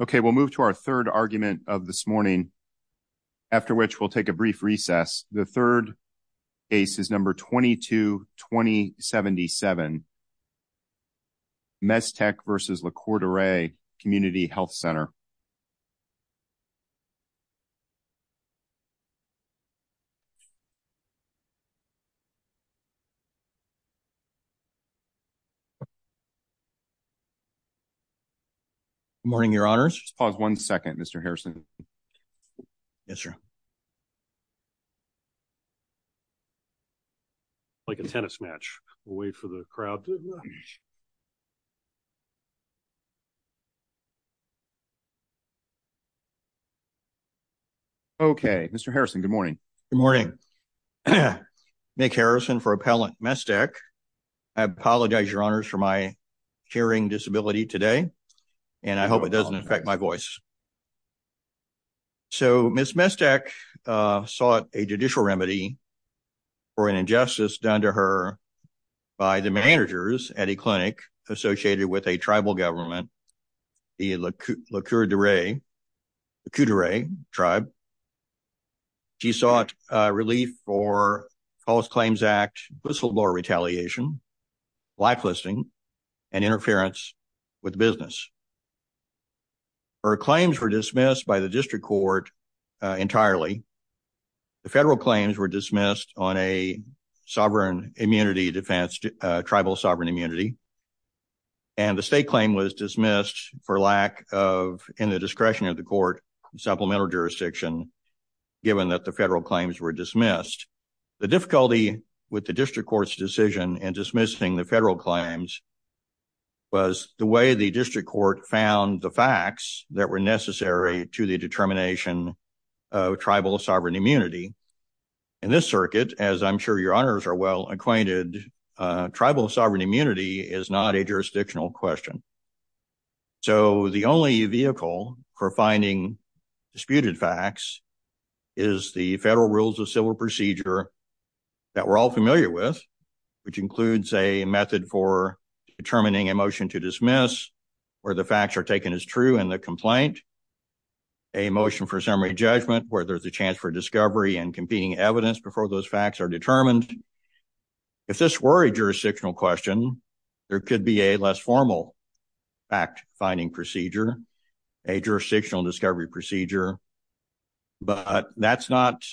Okay, we'll move to our third argument of this morning, after which we'll take a brief recess. The third case is number 22-2077, Mestek v. Lac Courte Oreilles Community Health Center. Good morning, your honors. Pause one second. Mr. Harrison. Yes, sir. Like a tennis match. We'll wait for the crowd to emerge. Okay, Mr. Harrison, good morning. Good morning. Nick Harrison for Appellant Mestek. I apologize, your honors, for my hearing disability today, and I hope it doesn't affect my voice. So, Ms. Mestek sought a judicial remedy for an injustice done to her by the managers at a clinic associated with a tribal government, the Lac Courte Oreilles tribe. She sought relief for false claims act, whistleblower retaliation, blacklisting, and interference with business. Her claims were dismissed by the district court entirely. The federal claims were dismissed on a sovereign immunity defense, tribal sovereign immunity, and the state claim was dismissed for lack of, in the discretion of the court, supplemental jurisdiction, given that the federal claims were dismissed. The difficulty with the district court's decision in dismissing the federal claims was the way the district court found the facts that were necessary to the determination of tribal sovereign immunity. In this circuit, as I'm sure your honors are well acquainted, tribal sovereign immunity is not a jurisdictional question. So, the only vehicle for finding disputed facts is the federal rules of civil procedure that we're all familiar with, which includes a method for determining a motion to dismiss where the facts are taken as true in the complaint, a motion for summary judgment where there's a chance for discovery and competing evidence before those facts are determined. If this were a jurisdictional question, there could be a less formal fact-finding procedure, a jurisdictional discovery procedure, but that's not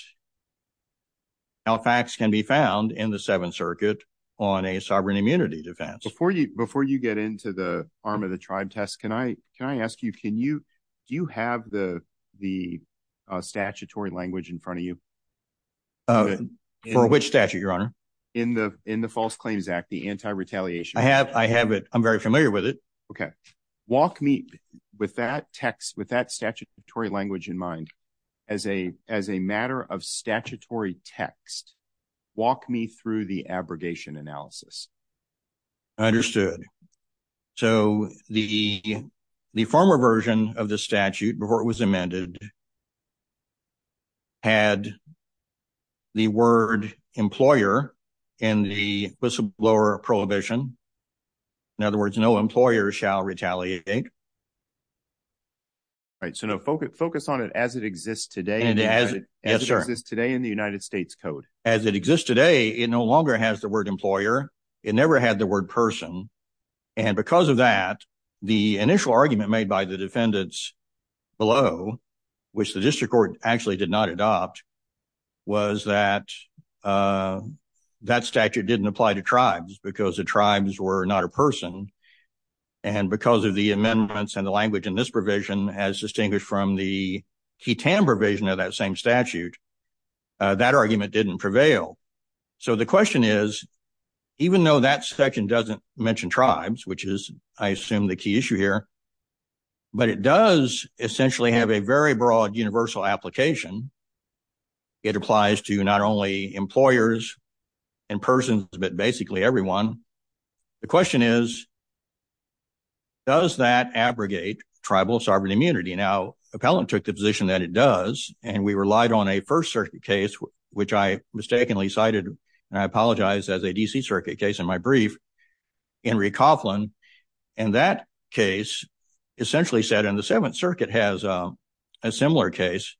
how facts can be found in the Seventh Circuit on a sovereign immunity defense. Before you get into the arm of the tribe test, can I ask you, do you have the statutory language in front of you? For which statute, your honor? In the False Claims Act, the anti-retaliation. I have it. I'm very familiar with it. Okay. Walk me, with that text, with that statutory language in mind, as a matter of statutory text, walk me through the abrogation analysis. Understood. So, the former version of the statute, before it was amended, had the word employer in the whistleblower prohibition. In other words, no employer shall retaliate. Right. So, no, focus on it as it exists today, as it exists today in the United States Code. As it exists today, it no longer has the word employer. It never had the word person. And because of that, the initial argument made by the defendants below, which the district actually did not adopt, was that that statute didn't apply to tribes, because the tribes were not a person. And because of the amendments and the language in this provision, as distinguished from the Keaton provision of that same statute, that argument didn't prevail. So, the question is, even though that section doesn't mention tribes, which is, I assume, the key issue here, but it does essentially have a very broad universal application. It applies to not only employers and persons, but basically everyone. The question is, does that abrogate tribal sovereign immunity? Now, appellant took the position that it does, and we relied on a First Circuit case, which I mistakenly cited, and I apologize, as a D.C. Circuit case in my brief, Henry Coughlin. And that case essentially said, and the Seventh Circuit has a similar case,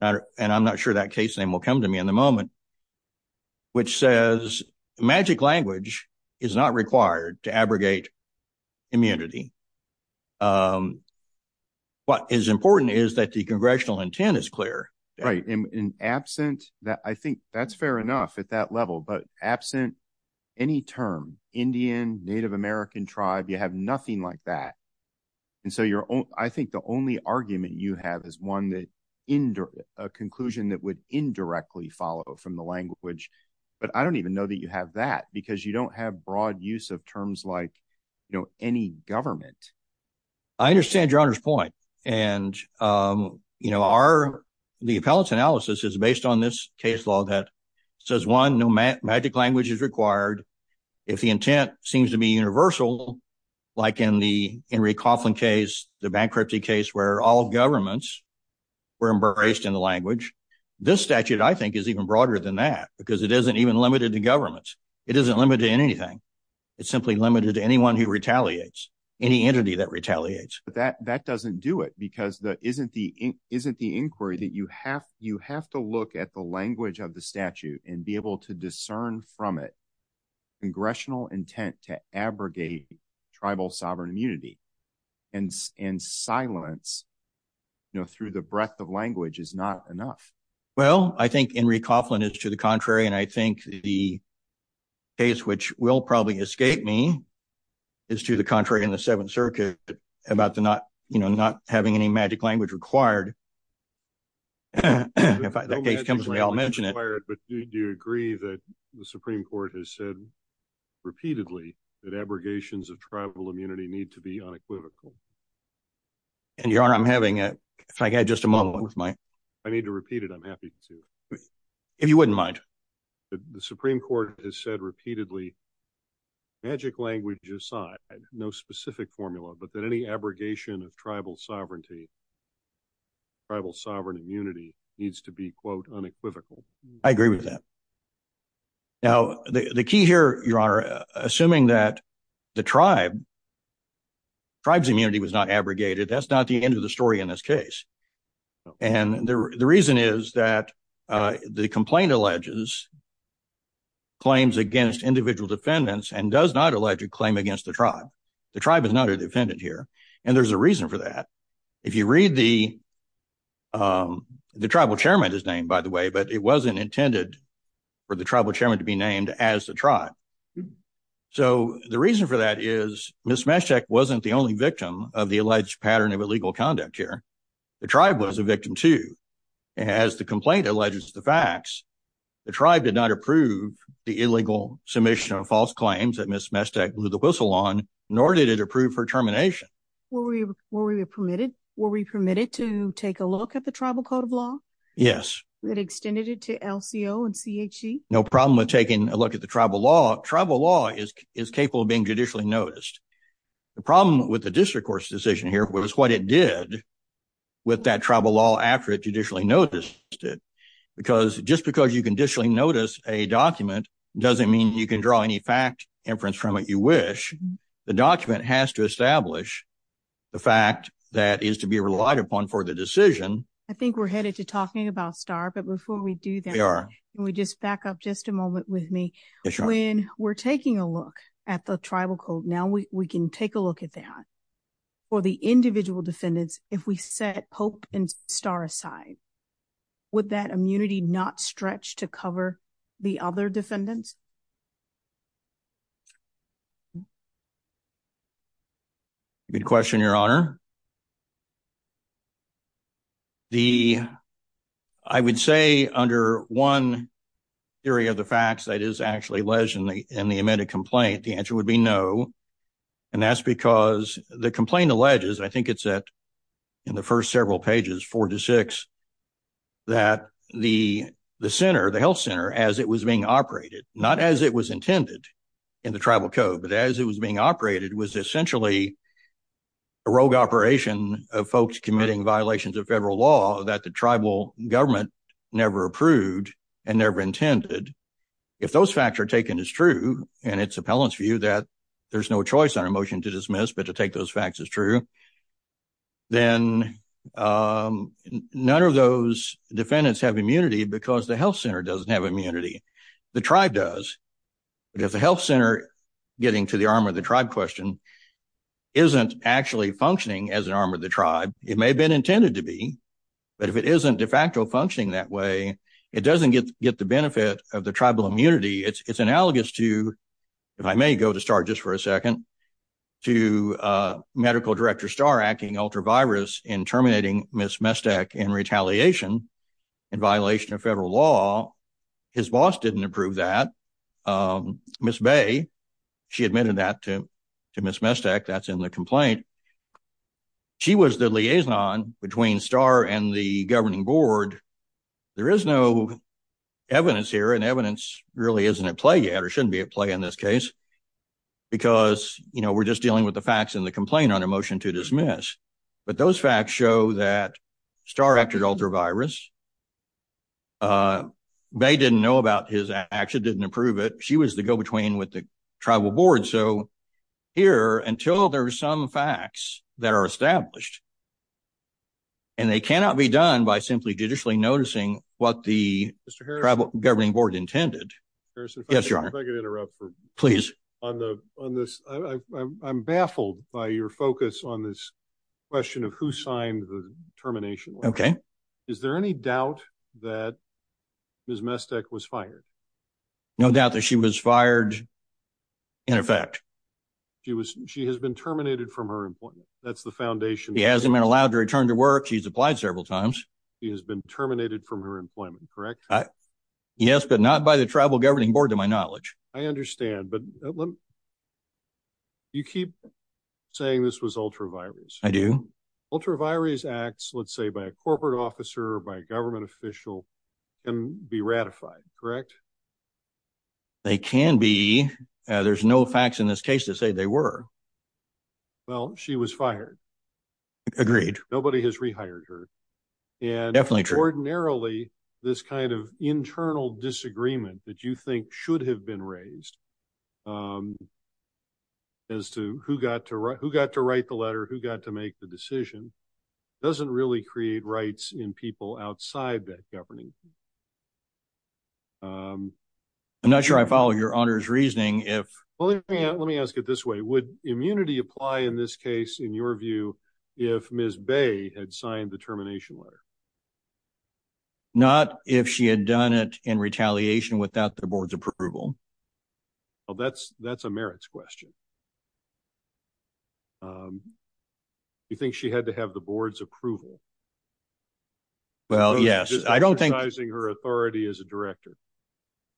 and I'm not sure that case name will come to me in a moment, which says magic language is not required to abrogate immunity. What is important is that the congressional intent is clear. Right. And absent that, I think that's fair enough at that level, but absent any term, Indian, Native American tribe, you have nothing like that. And so, I think the only argument you have is one that, a conclusion that would indirectly follow from the language. But I don't even know that you have that, because you don't have broad use of terms like, you know, any government. I understand Your Honor's point. And, you know, the appellate's analysis is based on this case law that says, one, no magic language is required. If the intent seems to be universal, like in the Henry Coughlin case, the bankruptcy case, where all governments were embraced in the language, this statute, I think, is even broader than that, because it isn't even limited to governments. It isn't limited to anything. It's simply limited to anyone who retaliates, any entity that retaliates. But that doesn't do it, because that isn't the inquiry that you have. You have to look at the language of the statute and be able to discern from it congressional intent to abrogate tribal sovereign immunity, and silence, you know, through the breadth of language is not enough. Well, I think Henry Coughlin is to the contrary, and I think the case, which will probably escape me, is to the contrary in the Seventh Circuit about the not, you know, not having any magic language required. If that case comes, we all mention it. But do you agree that the Supreme Court has said repeatedly that abrogations of tribal immunity need to be unequivocal? And, Your Honor, I'm having a, I had just a moment with my. I need to repeat it. I'm happy to. If you wouldn't mind. The Supreme Court has said repeatedly, magic language aside, no specific formula, but that abrogation of tribal sovereignty, tribal sovereign immunity needs to be quote unequivocal. I agree with that. Now, the key here, Your Honor, assuming that the tribe, tribe's immunity was not abrogated. That's not the end of the story in this case. And the reason is that the complaint alleges claims against individual defendants and does not allege a claim against the tribe. The tribe is not a defendant here. And there's a reason for that. If you read the, the tribal chairman is named, by the way, but it wasn't intended for the tribal chairman to be named as the tribe. So the reason for that is Ms. Meshtek wasn't the only victim of the alleged pattern of illegal conduct here. The tribe was a victim too. As the complaint alleges the facts, the tribe did not approve the illegal submission of nor did it approve for termination. Were we permitted to take a look at the tribal code of law? Yes. That extended it to LCO and CHE? No problem with taking a look at the tribal law. Tribal law is capable of being judicially noticed. The problem with the district court's decision here was what it did with that tribal law after it judicially noticed it. Just because you can judicially notice a document doesn't mean you can draw any fact inference from it. You wish the document has to establish the fact that is to be relied upon for the decision. I think we're headed to talking about STAR. But before we do that, can we just back up just a moment with me? When we're taking a look at the tribal code, now we can take a look at that. For the individual defendants, if we set Pope and STAR aside, would that immunity not stretch to cover the other defendants? Good question, Your Honor. I would say under one theory of the facts that is actually alleged in the amended complaint, the answer would be no. And that's because the complaint alleges, I think it's in the first several pages, four to six, that the center, the health center, as it was being operated, not as it was intended in the tribal code, but as it was being operated, was essentially a rogue operation of folks committing violations of federal law that the tribal government never approved and never intended. If those facts are taken as true, and it's appellant's view that there's no choice on a motion to dismiss, but to take those facts as true, then none of those defendants have immunity because the health center doesn't have immunity. The tribe does. But if the health center, getting to the arm of the tribe question, isn't actually functioning as an arm of the tribe, it may have been intended to be, but if it isn't de facto functioning that way, it doesn't get the benefit of the tribal immunity. It's analogous to, if I may go to STAR just for a second, to Medical Director STAR acting ultra-virus in terminating Ms. Mestek in retaliation in violation of federal law. His boss didn't approve that. Ms. Bay, she admitted that to Ms. Mestek. That's in the complaint. She was the liaison between STAR and the governing board. There is no evidence here, and evidence really isn't at play yet, or shouldn't be at play in this case, because we're just dealing with the facts in the complaint on a motion to dismiss. But those facts show that STAR acted ultra-virus. Bay didn't know about his action, didn't approve it. She was the go-between with the tribal board. So here, until there's some facts that are established, and they cannot be done by simply judicially noticing what the tribal governing board intended. Mr. Harrison, if I could interrupt for a moment. Please. On this, I'm baffled by your focus on this question of who signed the termination. Okay. Is there any doubt that Ms. Mestek was fired? No doubt that she was fired, in effect. She has been terminated from her employment. That's the foundation. She hasn't been allowed to return to work. She's applied several times. She has been terminated from her employment, correct? Yes, but not by the tribal governing board, to my knowledge. I understand, but you keep saying this was ultra-virus. I do. Ultra-virus acts, let's say by a corporate officer or by a government official, can be ratified, correct? They can be. There's no facts in this case to say they were. Well, she was fired. Agreed. Nobody has rehired her. And ordinarily, this kind of internal disagreement that you think should have been raised as to who got to write the letter, who got to make the decision, doesn't really create rights in people outside that governing. I'm not sure I follow your honor's reasoning. Let me ask it this way. Would immunity apply in this case, in your view, if Ms. Bay had signed the termination letter? Not if she had done it in retaliation without the board's approval. Well, that's a merits question. You think she had to have the board's approval? Well, yes. Exercising her authority as a director.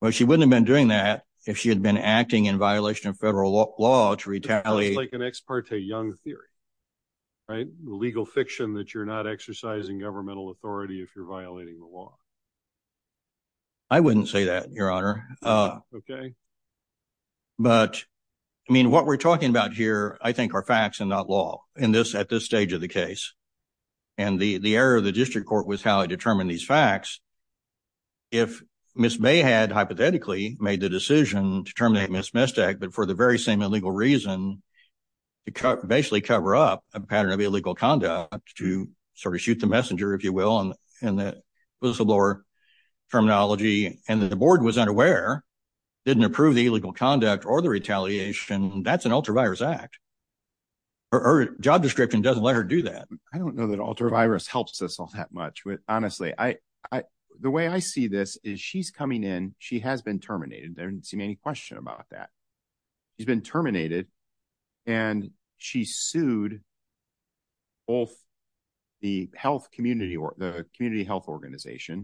Well, she wouldn't have been doing that if she had been acting in violation of federal law to retaliate. It's like an ex parte young theory, right? Authority if you're violating the law. I wouldn't say that, your honor. But I mean, what we're talking about here, I think are facts and not law in this at this stage of the case. And the error of the district court was how I determine these facts. If Ms. Bay had hypothetically made the decision to terminate Ms. Mystak, but for the very same illegal reason, to basically cover up a pattern of illegal conduct, to sort of shoot the messenger, if you will, in the whistleblower terminology, and the board was unaware, didn't approve the illegal conduct or the retaliation, that's an ultravirus act. Her job description doesn't let her do that. I don't know that ultravirus helps us all that much. Honestly, the way I see this is she's coming in, she has been terminated. There didn't seem any question about that. She's been terminated and she sued both the health community or the community health organization.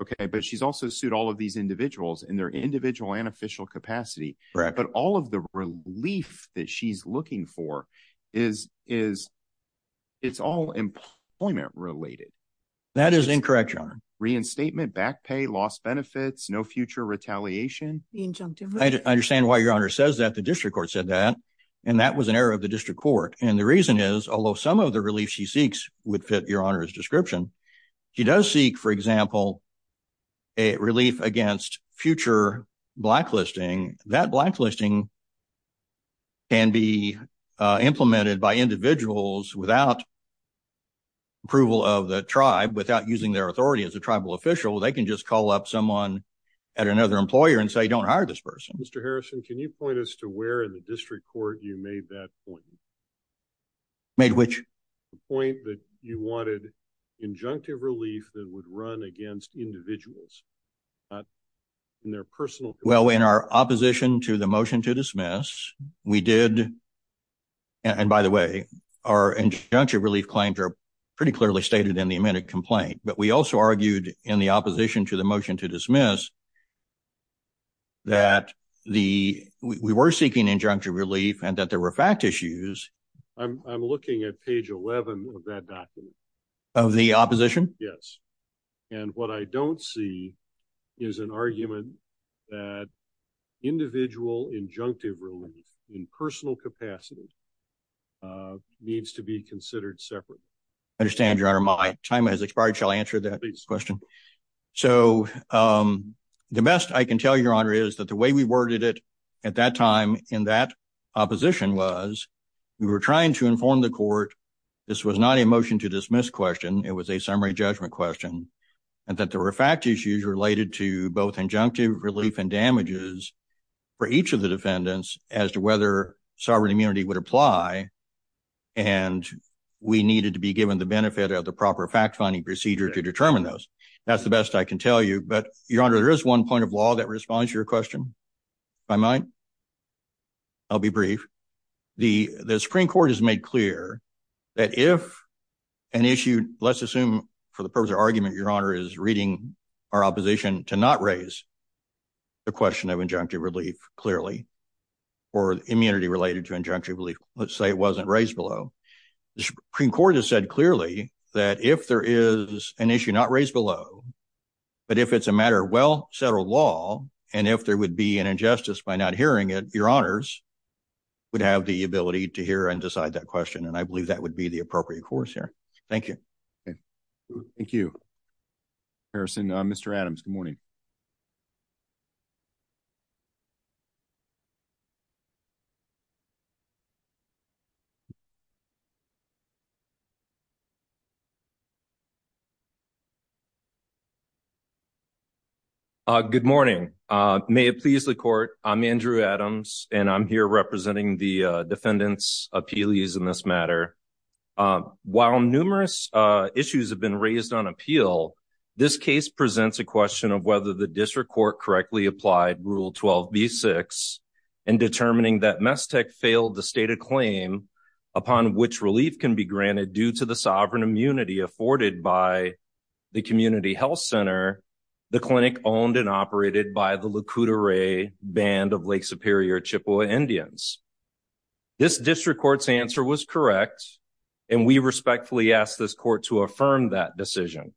Okay. But she's also sued all of these individuals in their individual and official capacity. But all of the relief that she's looking for is, it's all employment related. That is incorrect, your honor. Reinstatement, back pay, lost benefits, no future retaliation. I understand why your honor says that the district court said that, and that was an error of the district court. And the reason is, although some of the relief she seeks would fit your honor's description, she does seek, for example, a relief against future blacklisting. That blacklisting can be implemented by individuals without approval of the tribe, without using their authority as a tribal official. They can just call up someone at another employer and say, don't hire this person. Mr. Harrison, can you point us to where in the district court you made that point? Made which? The point that you wanted injunctive relief that would run against individuals, in their personal- Well, in our opposition to the motion to dismiss, we did, and by the way, our injunctive relief claims are pretty clearly stated in the amended complaint. But we also argued in the opposition to the motion to dismiss that we were seeking injunctive relief and that there were fact issues. I'm looking at page 11 of that document. Of the opposition? Yes. And what I don't see is an argument that individual injunctive relief in personal capacity needs to be considered separate. I understand, your honor. My time has expired. Shall I answer that question? So the best I can tell you, your honor, is that the way we worded it at that time in that opposition was we were trying to inform the court this was not a motion to dismiss question. It was a summary judgment question and that there were fact issues related to both injunctive relief and damages for each of the defendants as to whether sovereign immunity would apply. And we needed to be given the benefit of the proper fact-finding procedure to determine those. That's the best I can tell you. But your honor, there is one point of law that responds to your question. If I might, I'll be brief. The Supreme Court has made clear that if an issue, let's assume for the purpose of argument, your honor, is reading our opposition to not raise the question of injunctive relief clearly or immunity related to injunctive relief, let's say it wasn't raised below. The Supreme Court has said clearly that if there is an issue not raised below, but if it's a matter of well-settled law and if there would be an injustice by not hearing it, your honors, would have the ability to hear and decide that question. And I believe that would be the appropriate course here. Thank you. Thank you, Harrison. Mr. Adams, good morning. Good morning. May it please the court, I'm Andrew Adams and I'm here representing the defendant's appealees in this matter. While numerous issues have been raised on appeal, this case presents a question of whether the district court correctly applied Rule 12b-6 in determining that Mestec failed to state a claim upon which relief can be granted due to the sovereign immunity afforded by the community health center, the clinic owned and operated by the Lac Courte Oreilles band of Lake Superior Chippewa Indians. This district court's answer was correct and we respectfully ask this court to affirm that decision.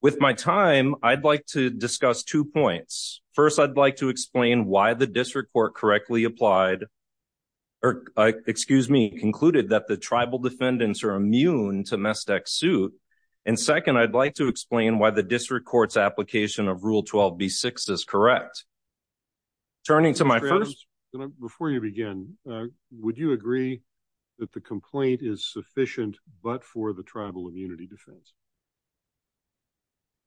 With my time, I'd like to discuss two points. First, I'd like to explain why the district court correctly applied or, excuse me, concluded that the tribal defendants are immune to Mestec's suit. And second, I'd like to explain why the district court's application of Rule 12b-6 is correct. Turning to my first... Mr. Adams, before you begin, would you agree that the complaint is sufficient but for the tribal immunity defense?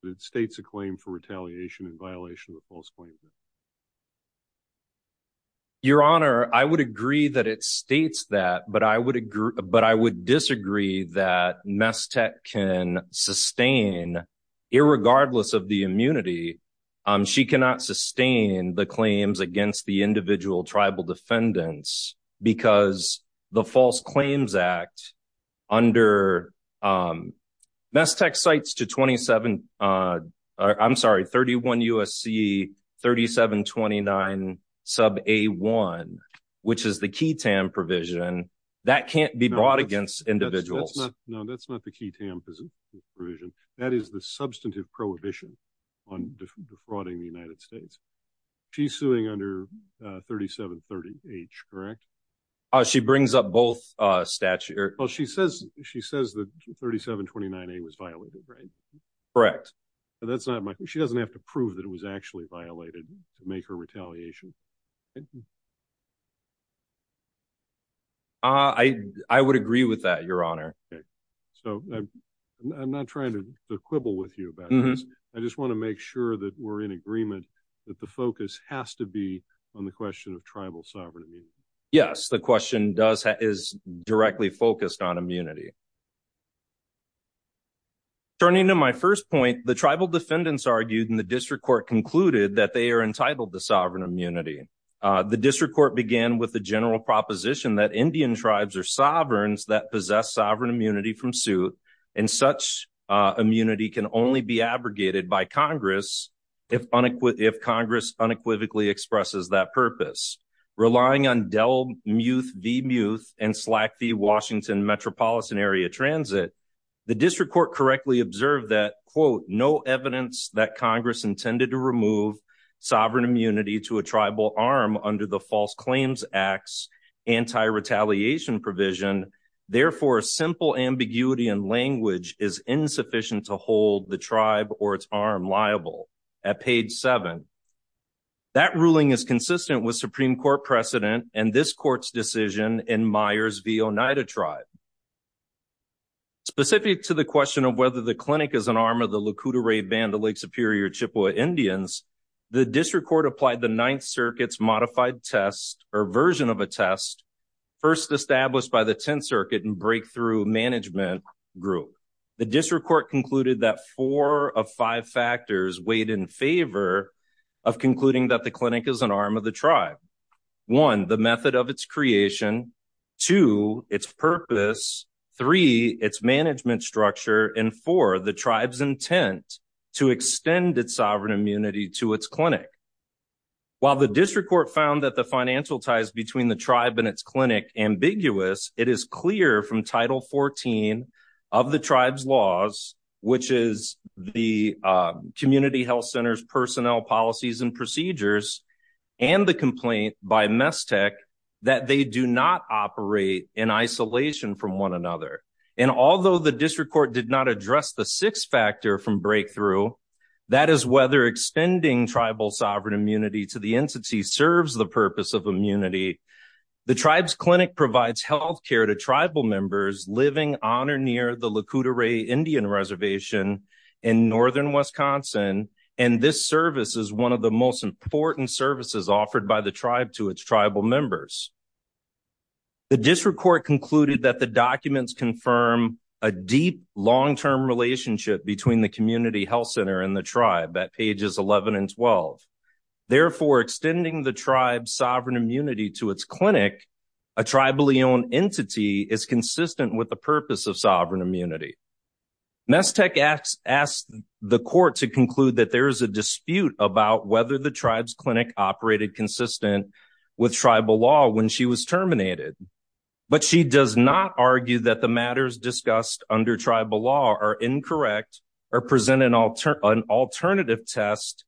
That it states a claim for retaliation in violation of a false claim? Your Honor, I would agree that it states that, but I would disagree that Mestec can sustain, irregardless of the immunity, she cannot sustain the claims against the individual tribal defendants because the False Claims Act under Mestec Cites to 27... I'm sorry, 31 U.S.C. 3729 sub a1, which is the QTAM provision, that can't be brought against individuals. No, that's not the QTAM provision. That is the substantive prohibition on defrauding the United States. She's suing under 3730H, correct? She brings up both statutes. Well, she says that 3729A was violated, right? Correct. But that's not my... She doesn't have to prove that it was actually violated to make her retaliation. I would agree with that, Your Honor. So I'm not trying to quibble with you about this. I just want to make sure that we're in agreement that the focus has to be on the question of tribal sovereign immunity. Yes, the question is directly focused on immunity. Turning to my first point, the tribal defendants argued in the district court concluded that they are entitled to sovereign immunity. The district court began with the general proposition that Indian tribes are sovereigns that possess sovereign immunity from suit, and such immunity can only be abrogated by Congress if Congress unequivocally expresses that purpose. Relying on Dell Muth v. Muth and Slack v. Washington Metropolitan Area Transit, the district court correctly observed that, quote, no evidence that Congress intended to remove sovereign immunity to a tribal arm under the False Claims Act's anti-retaliation provision, therefore, simple ambiguity and language is insufficient to hold the tribe or its arm liable. At page seven, that ruling is consistent with Supreme Court precedent and this court's decision in Myers v. Oneida tribe. Specific to the question of whether the clinic is an arm of the Lakota Ray Band of Lake Superior Chippewa Indians, the district court applied the Ninth Circuit's modified test or version of a test first established by the Tenth Circuit in Breakthrough Management Group. The district court concluded that four of five factors weighed in favor of concluding that the clinic is an arm of the tribe. One, the method of its creation. Two, its purpose. Three, its management structure. And four, the tribe's intent to extend its sovereign immunity to its clinic. While the district court found that the financial ties between the tribe and its clinic ambiguous, it is clear from Title 14 of the tribe's laws, which is the community health center's personnel policies and procedures and the complaint by Mestec that they do not operate in isolation from one another. And although the district court did not address the sixth factor from Breakthrough, that is whether extending tribal sovereign immunity to the entity serves the purpose of immunity. The tribe's clinic provides health care to tribal members living on or near the Lac Courte Oreilles Indian Reservation in northern Wisconsin. And this service is one of the most important services offered by the tribe to its tribal members. The district court concluded that the documents confirm a deep, long-term relationship between the community health center and the tribe at pages 11 and 12. Therefore, extending the tribe's sovereign immunity to its clinic, a tribally owned entity is consistent with the purpose of sovereign immunity. Mestec asked the court to conclude that there is a dispute about whether the tribe's clinic operated consistent with tribal law when she was terminated. But she does not argue that the matters discussed under tribal law are incorrect or present an alternative test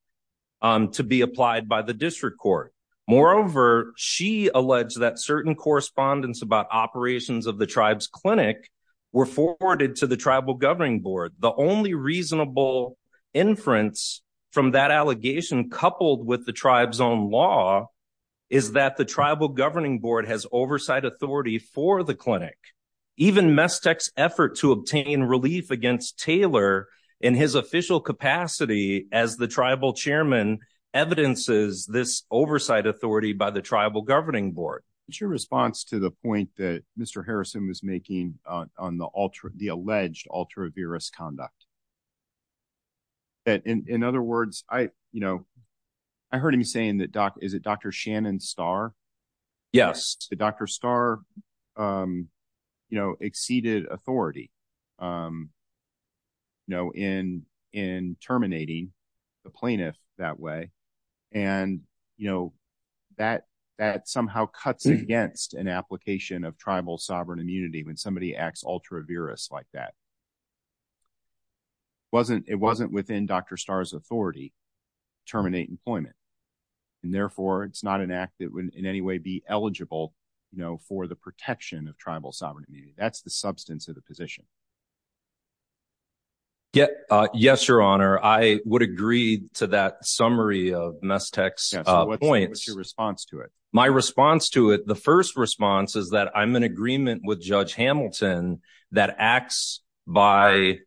to be applied by the district court. Moreover, she alleged that certain correspondence about operations of the tribe's clinic were forwarded to the tribal governing board. The only reasonable inference from that allegation coupled with the tribe's own law is that the tribal governing board has oversight authority for the clinic. Even Mestec's effort to obtain relief against Taylor in his official capacity as the tribal chairman evidences this oversight authority by the tribal governing board. What's your response to the point that Mr. Harrison was making on the alleged ultra-virus conduct? In other words, I heard him saying that, is it Dr. Shannon Starr? Yes. Did Dr. Starr exceeded authority in terminating the plaintiff that way? And that somehow cuts against an application of tribal sovereign immunity when somebody acts ultra-virus like that. It wasn't within Dr. Starr's authority to terminate employment. And therefore, it's not an act that would in any way be eligible for the protection of tribal sovereign immunity. That's the substance of the position. Yes, Your Honor. I would agree to that summary of Mestec's points. What's your response to it? My response to it, the first response is that I'm in agreement with Judge Hamilton that acts by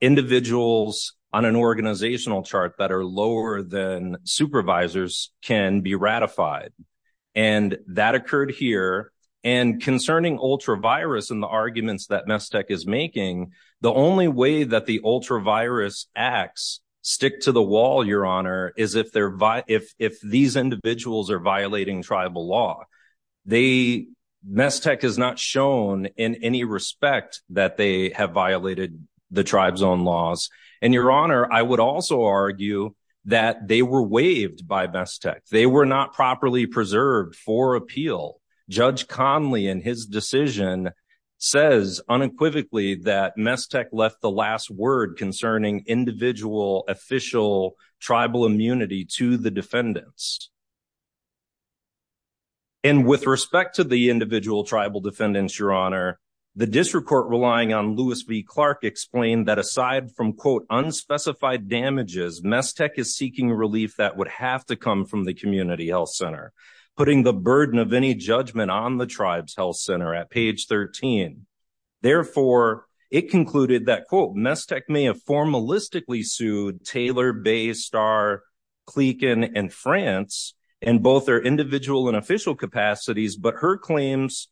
individuals on an organizational chart that are lower than supervisors can be ratified. And that occurred here. And concerning ultra-virus and the arguments that Mestec is making, the only way that the ultra-virus acts stick to the wall, Your Honor, is if these individuals are violating tribal law. Mestec has not shown in any respect that they have violated the tribe's own laws. And Your Honor, I would also argue that they were waived by Mestec. They were not properly preserved for appeal. Judge Conley and his decision says unequivocally that Mestec left the last word concerning individual, official tribal immunity to the defendants. And with respect to the individual tribal defendants, Your Honor, the district court relying on Lewis v. Clark explained that aside from, quote, unspecified damages, Mestec is seeking relief that would have to come from the community health center. Putting the burden of any judgment on the tribe's health center at page 13. Therefore, it concluded that, quote, Mestec may have formalistically sued Taylor, Bay, Starr, Clicquen, and France in both their individual and official capacities, but her claims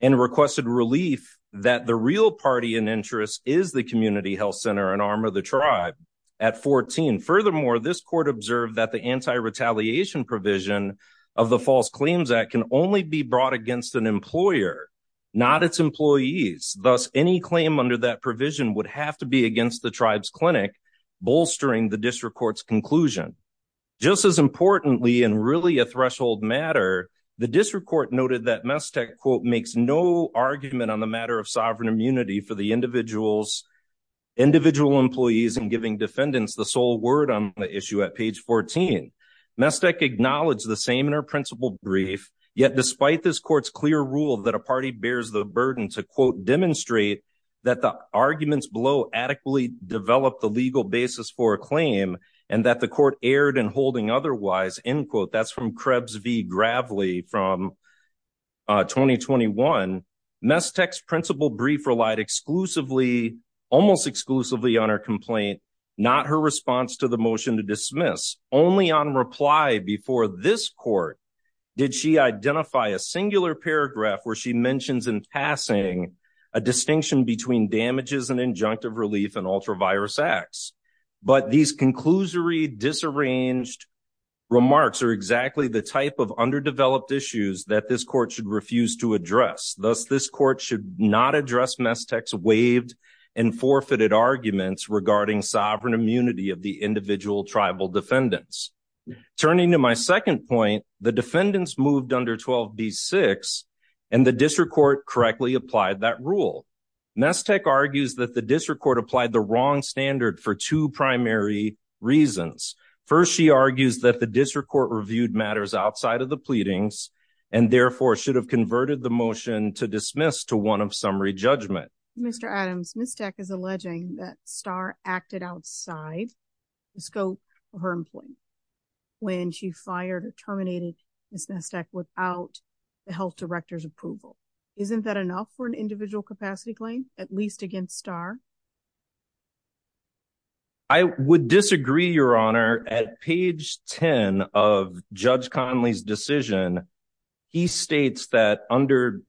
and requested relief that the real party in interest is the community health center and arm of the tribe at 14. Furthermore, this court observed that the anti-retaliation provision of the False Claims Act can only be brought against an employer, not its employees. Thus, any claim under that provision would have to be against the tribe's clinic, bolstering the district court's conclusion. Just as importantly, and really a threshold matter, the district court noted that Mestec, quote, makes no argument on the matter of sovereign immunity for the individual's individual employees and giving defendants the sole word on the issue at page 14. Mestec acknowledged the same brief, yet despite this court's clear rule that a party bears the burden to, quote, demonstrate that the arguments below adequately develop the legal basis for a claim and that the court erred in holding otherwise, end quote. That's from Krebs v. Gravely from 2021. Mestec's principal brief relied exclusively, almost exclusively, on her complaint, not her response to the motion to dismiss. Only on reply before this court did she identify a singular paragraph where she mentions in passing a distinction between damages and injunctive relief and ultravirus acts. But these conclusory, disarranged remarks are exactly the type of underdeveloped issues that this court should refuse to address. Thus, this court should not address Mestec's waived and forfeited arguments regarding sovereign immunity of the individual tribal defendants. Turning to my second point, the defendants moved under 12b-6 and the district court correctly applied that rule. Mestec argues that the district court applied the wrong standard for two primary reasons. First, she argues that the district court reviewed matters outside of the pleadings and therefore should have converted the motion to dismiss to one of summary judgment. Mr. Adams, Mestec is alleging that Starr acted outside the scope of her employment. When she fired or terminated Ms. Mestec without the health director's approval. Isn't that enough for an individual capacity claim, at least against Starr? I would disagree, Your Honor. At page 10 of Judge Conley's decision, he states that under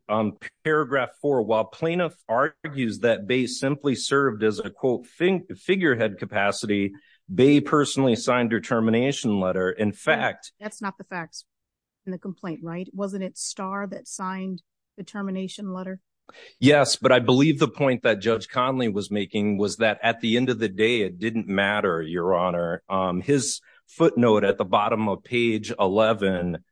paragraph four, while plaintiff argues that Bay simply served as a quote figurehead capacity, Bay personally signed her termination letter. In fact, that's not the facts in the complaint, right? Wasn't it Starr that signed the termination letter? Yes, but I believe the point that Judge Conley was making was that at the end of the day, it didn't matter, Your Honor. His footnote at the bottom of page 11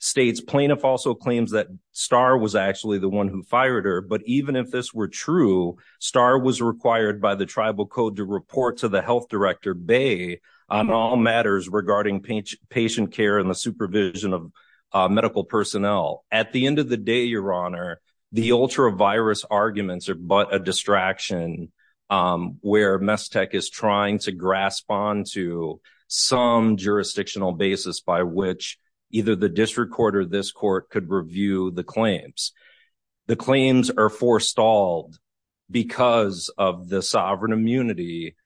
states, plaintiff also claims that Starr was actually the one who fired her. But even if this were true, Starr was required by the tribal code to report to the health director, Bay, on all matters regarding patient care and the supervision of medical personnel. At the end of the day, Your Honor, the ultra-virus arguments are but a distraction where Messtech is trying to grasp onto some jurisdictional basis by which either the district court or this court could review the claims. The claims are forestalled because of the sovereign immunity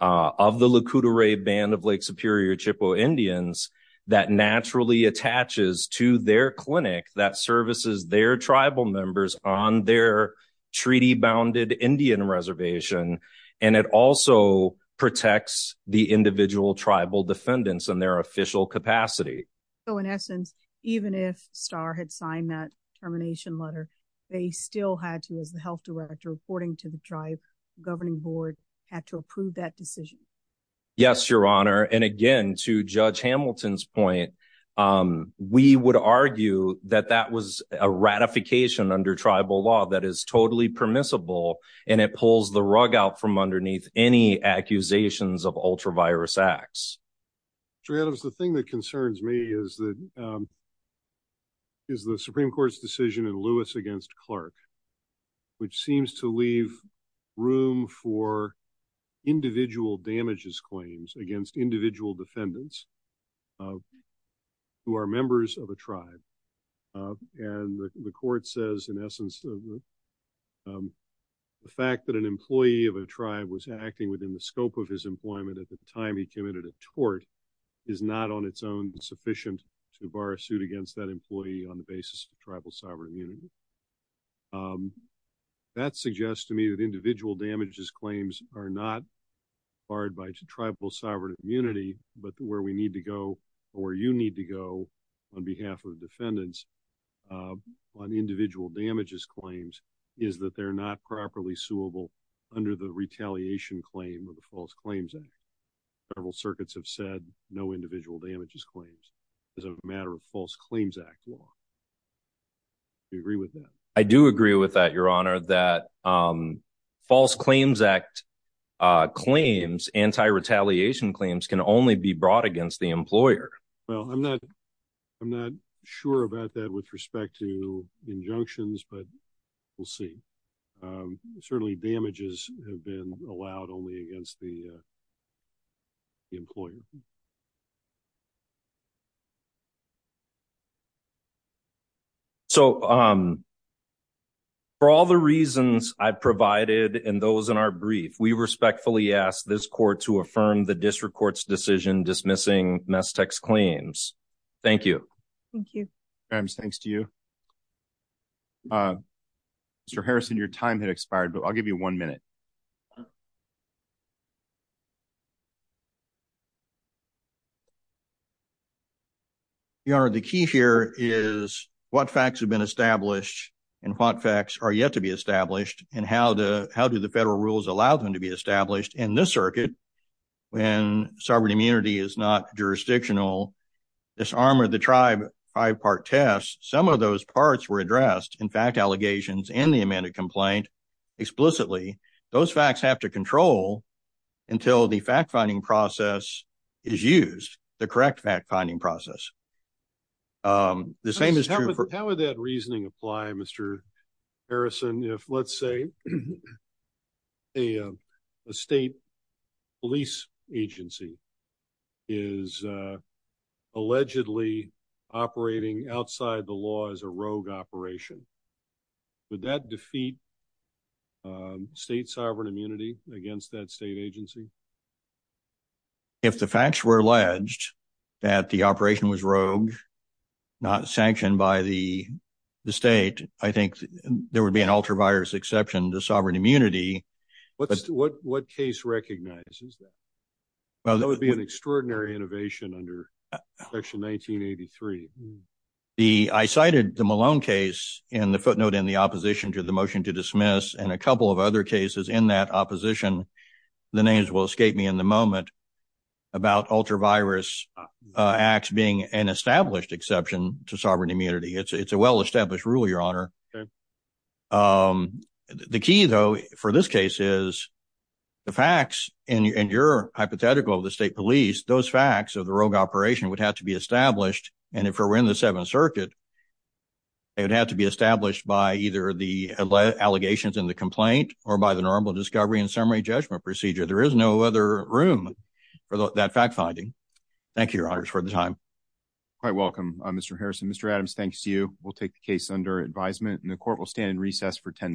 of the Lac Courte Oreilles Band of Lake Superior Chippewa Indians that naturally attaches to their clinic that services their tribal members on their treaty-bounded Indian reservation. And it also protects the individual tribal defendants in their official capacity. So in essence, even if Starr had signed that termination letter, they still had to, as the health director, reporting to the tribe, the governing board had to approve that decision. Yes, Your Honor. And again, to Judge Hamilton's point, we would argue that that was a ratification under tribal law that is totally permissible and it pulls the rug out from underneath any accusations of ultra-virus acts. Judge Adams, the thing that concerns me is that is the Supreme Court's decision in Lewis against Clark, which seems to leave room for individual damages claims against individual defendants who are members of a tribe. And the court says, in essence, the fact that an employee of a tribe was acting within the scope of his employment at the time he committed a tort is not on its own sufficient to bar a suit against that employee on the basis of tribal sovereign immunity. That suggests to me that individual damages claims are not barred by tribal sovereign immunity, but where we need to go or where you need to go on behalf of defendants on individual damages claims is that they're not properly suable under the retaliation claim of the False Claims Act. Several circuits have said no individual damages claims is a matter of False Claims Act law. Do you agree with that? I do agree with that, Your Honor, that False Claims Act claims, anti-retaliation claims, can only be brought against the employer. Well, I'm not sure about that with respect to injunctions, but we'll see. Certainly damages have been allowed only against the employer. So, for all the reasons I've provided and those in our brief, we respectfully ask this court to affirm the district court's decision dismissing Messtech's claims. Thank you. Thank you. Ms. Grimes, thanks to you. Mr. Harrison, your time had expired, but I'll give you one minute. Your Honor, the key here is what facts have been established and what facts are yet to be established and how do the federal rules allow them to be established? In this circuit, when sovereign immunity is not jurisdictional, this arm of the tribe five-part test, some of those parts were addressed. In fact, allegations in the amended complaint explicitly, those facts have to control until the fact-finding process is used, the correct fact-finding process. The same is true for- How would that reasoning apply, Mr. Harrison, if let's say a state police agency is allegedly operating outside the law as a rogue operation? Would that defeat state sovereign immunity against that state agency? If the facts were alleged that the operation was rogue, not sanctioned by the state, I think there would be an ultra-virus exception to sovereign immunity. What case recognizes that? That would be an extraordinary innovation under section 1983. The- I cited the Malone case in the footnote in the opposition to the motion to dismiss and a couple of other cases in that opposition. The names will escape me in the moment about ultra-virus acts being an established exception to sovereign immunity. It's a well-established rule, Your Honor. The key though, for this case, is the facts and your hypothetical of the state police, those facts of the rogue operation would have to be established and if we're in the Seventh Circuit, it would have to be established by either the allegations in the complaint or by the normal discovery and summary judgment procedure. There is no other room for that fact-finding. Thank you, Your Honors, for the time. Quite welcome, Mr. Harrison. Mr. Adams, thanks to you. We'll take the case under advisement and the court will stand in recess for 10 minutes.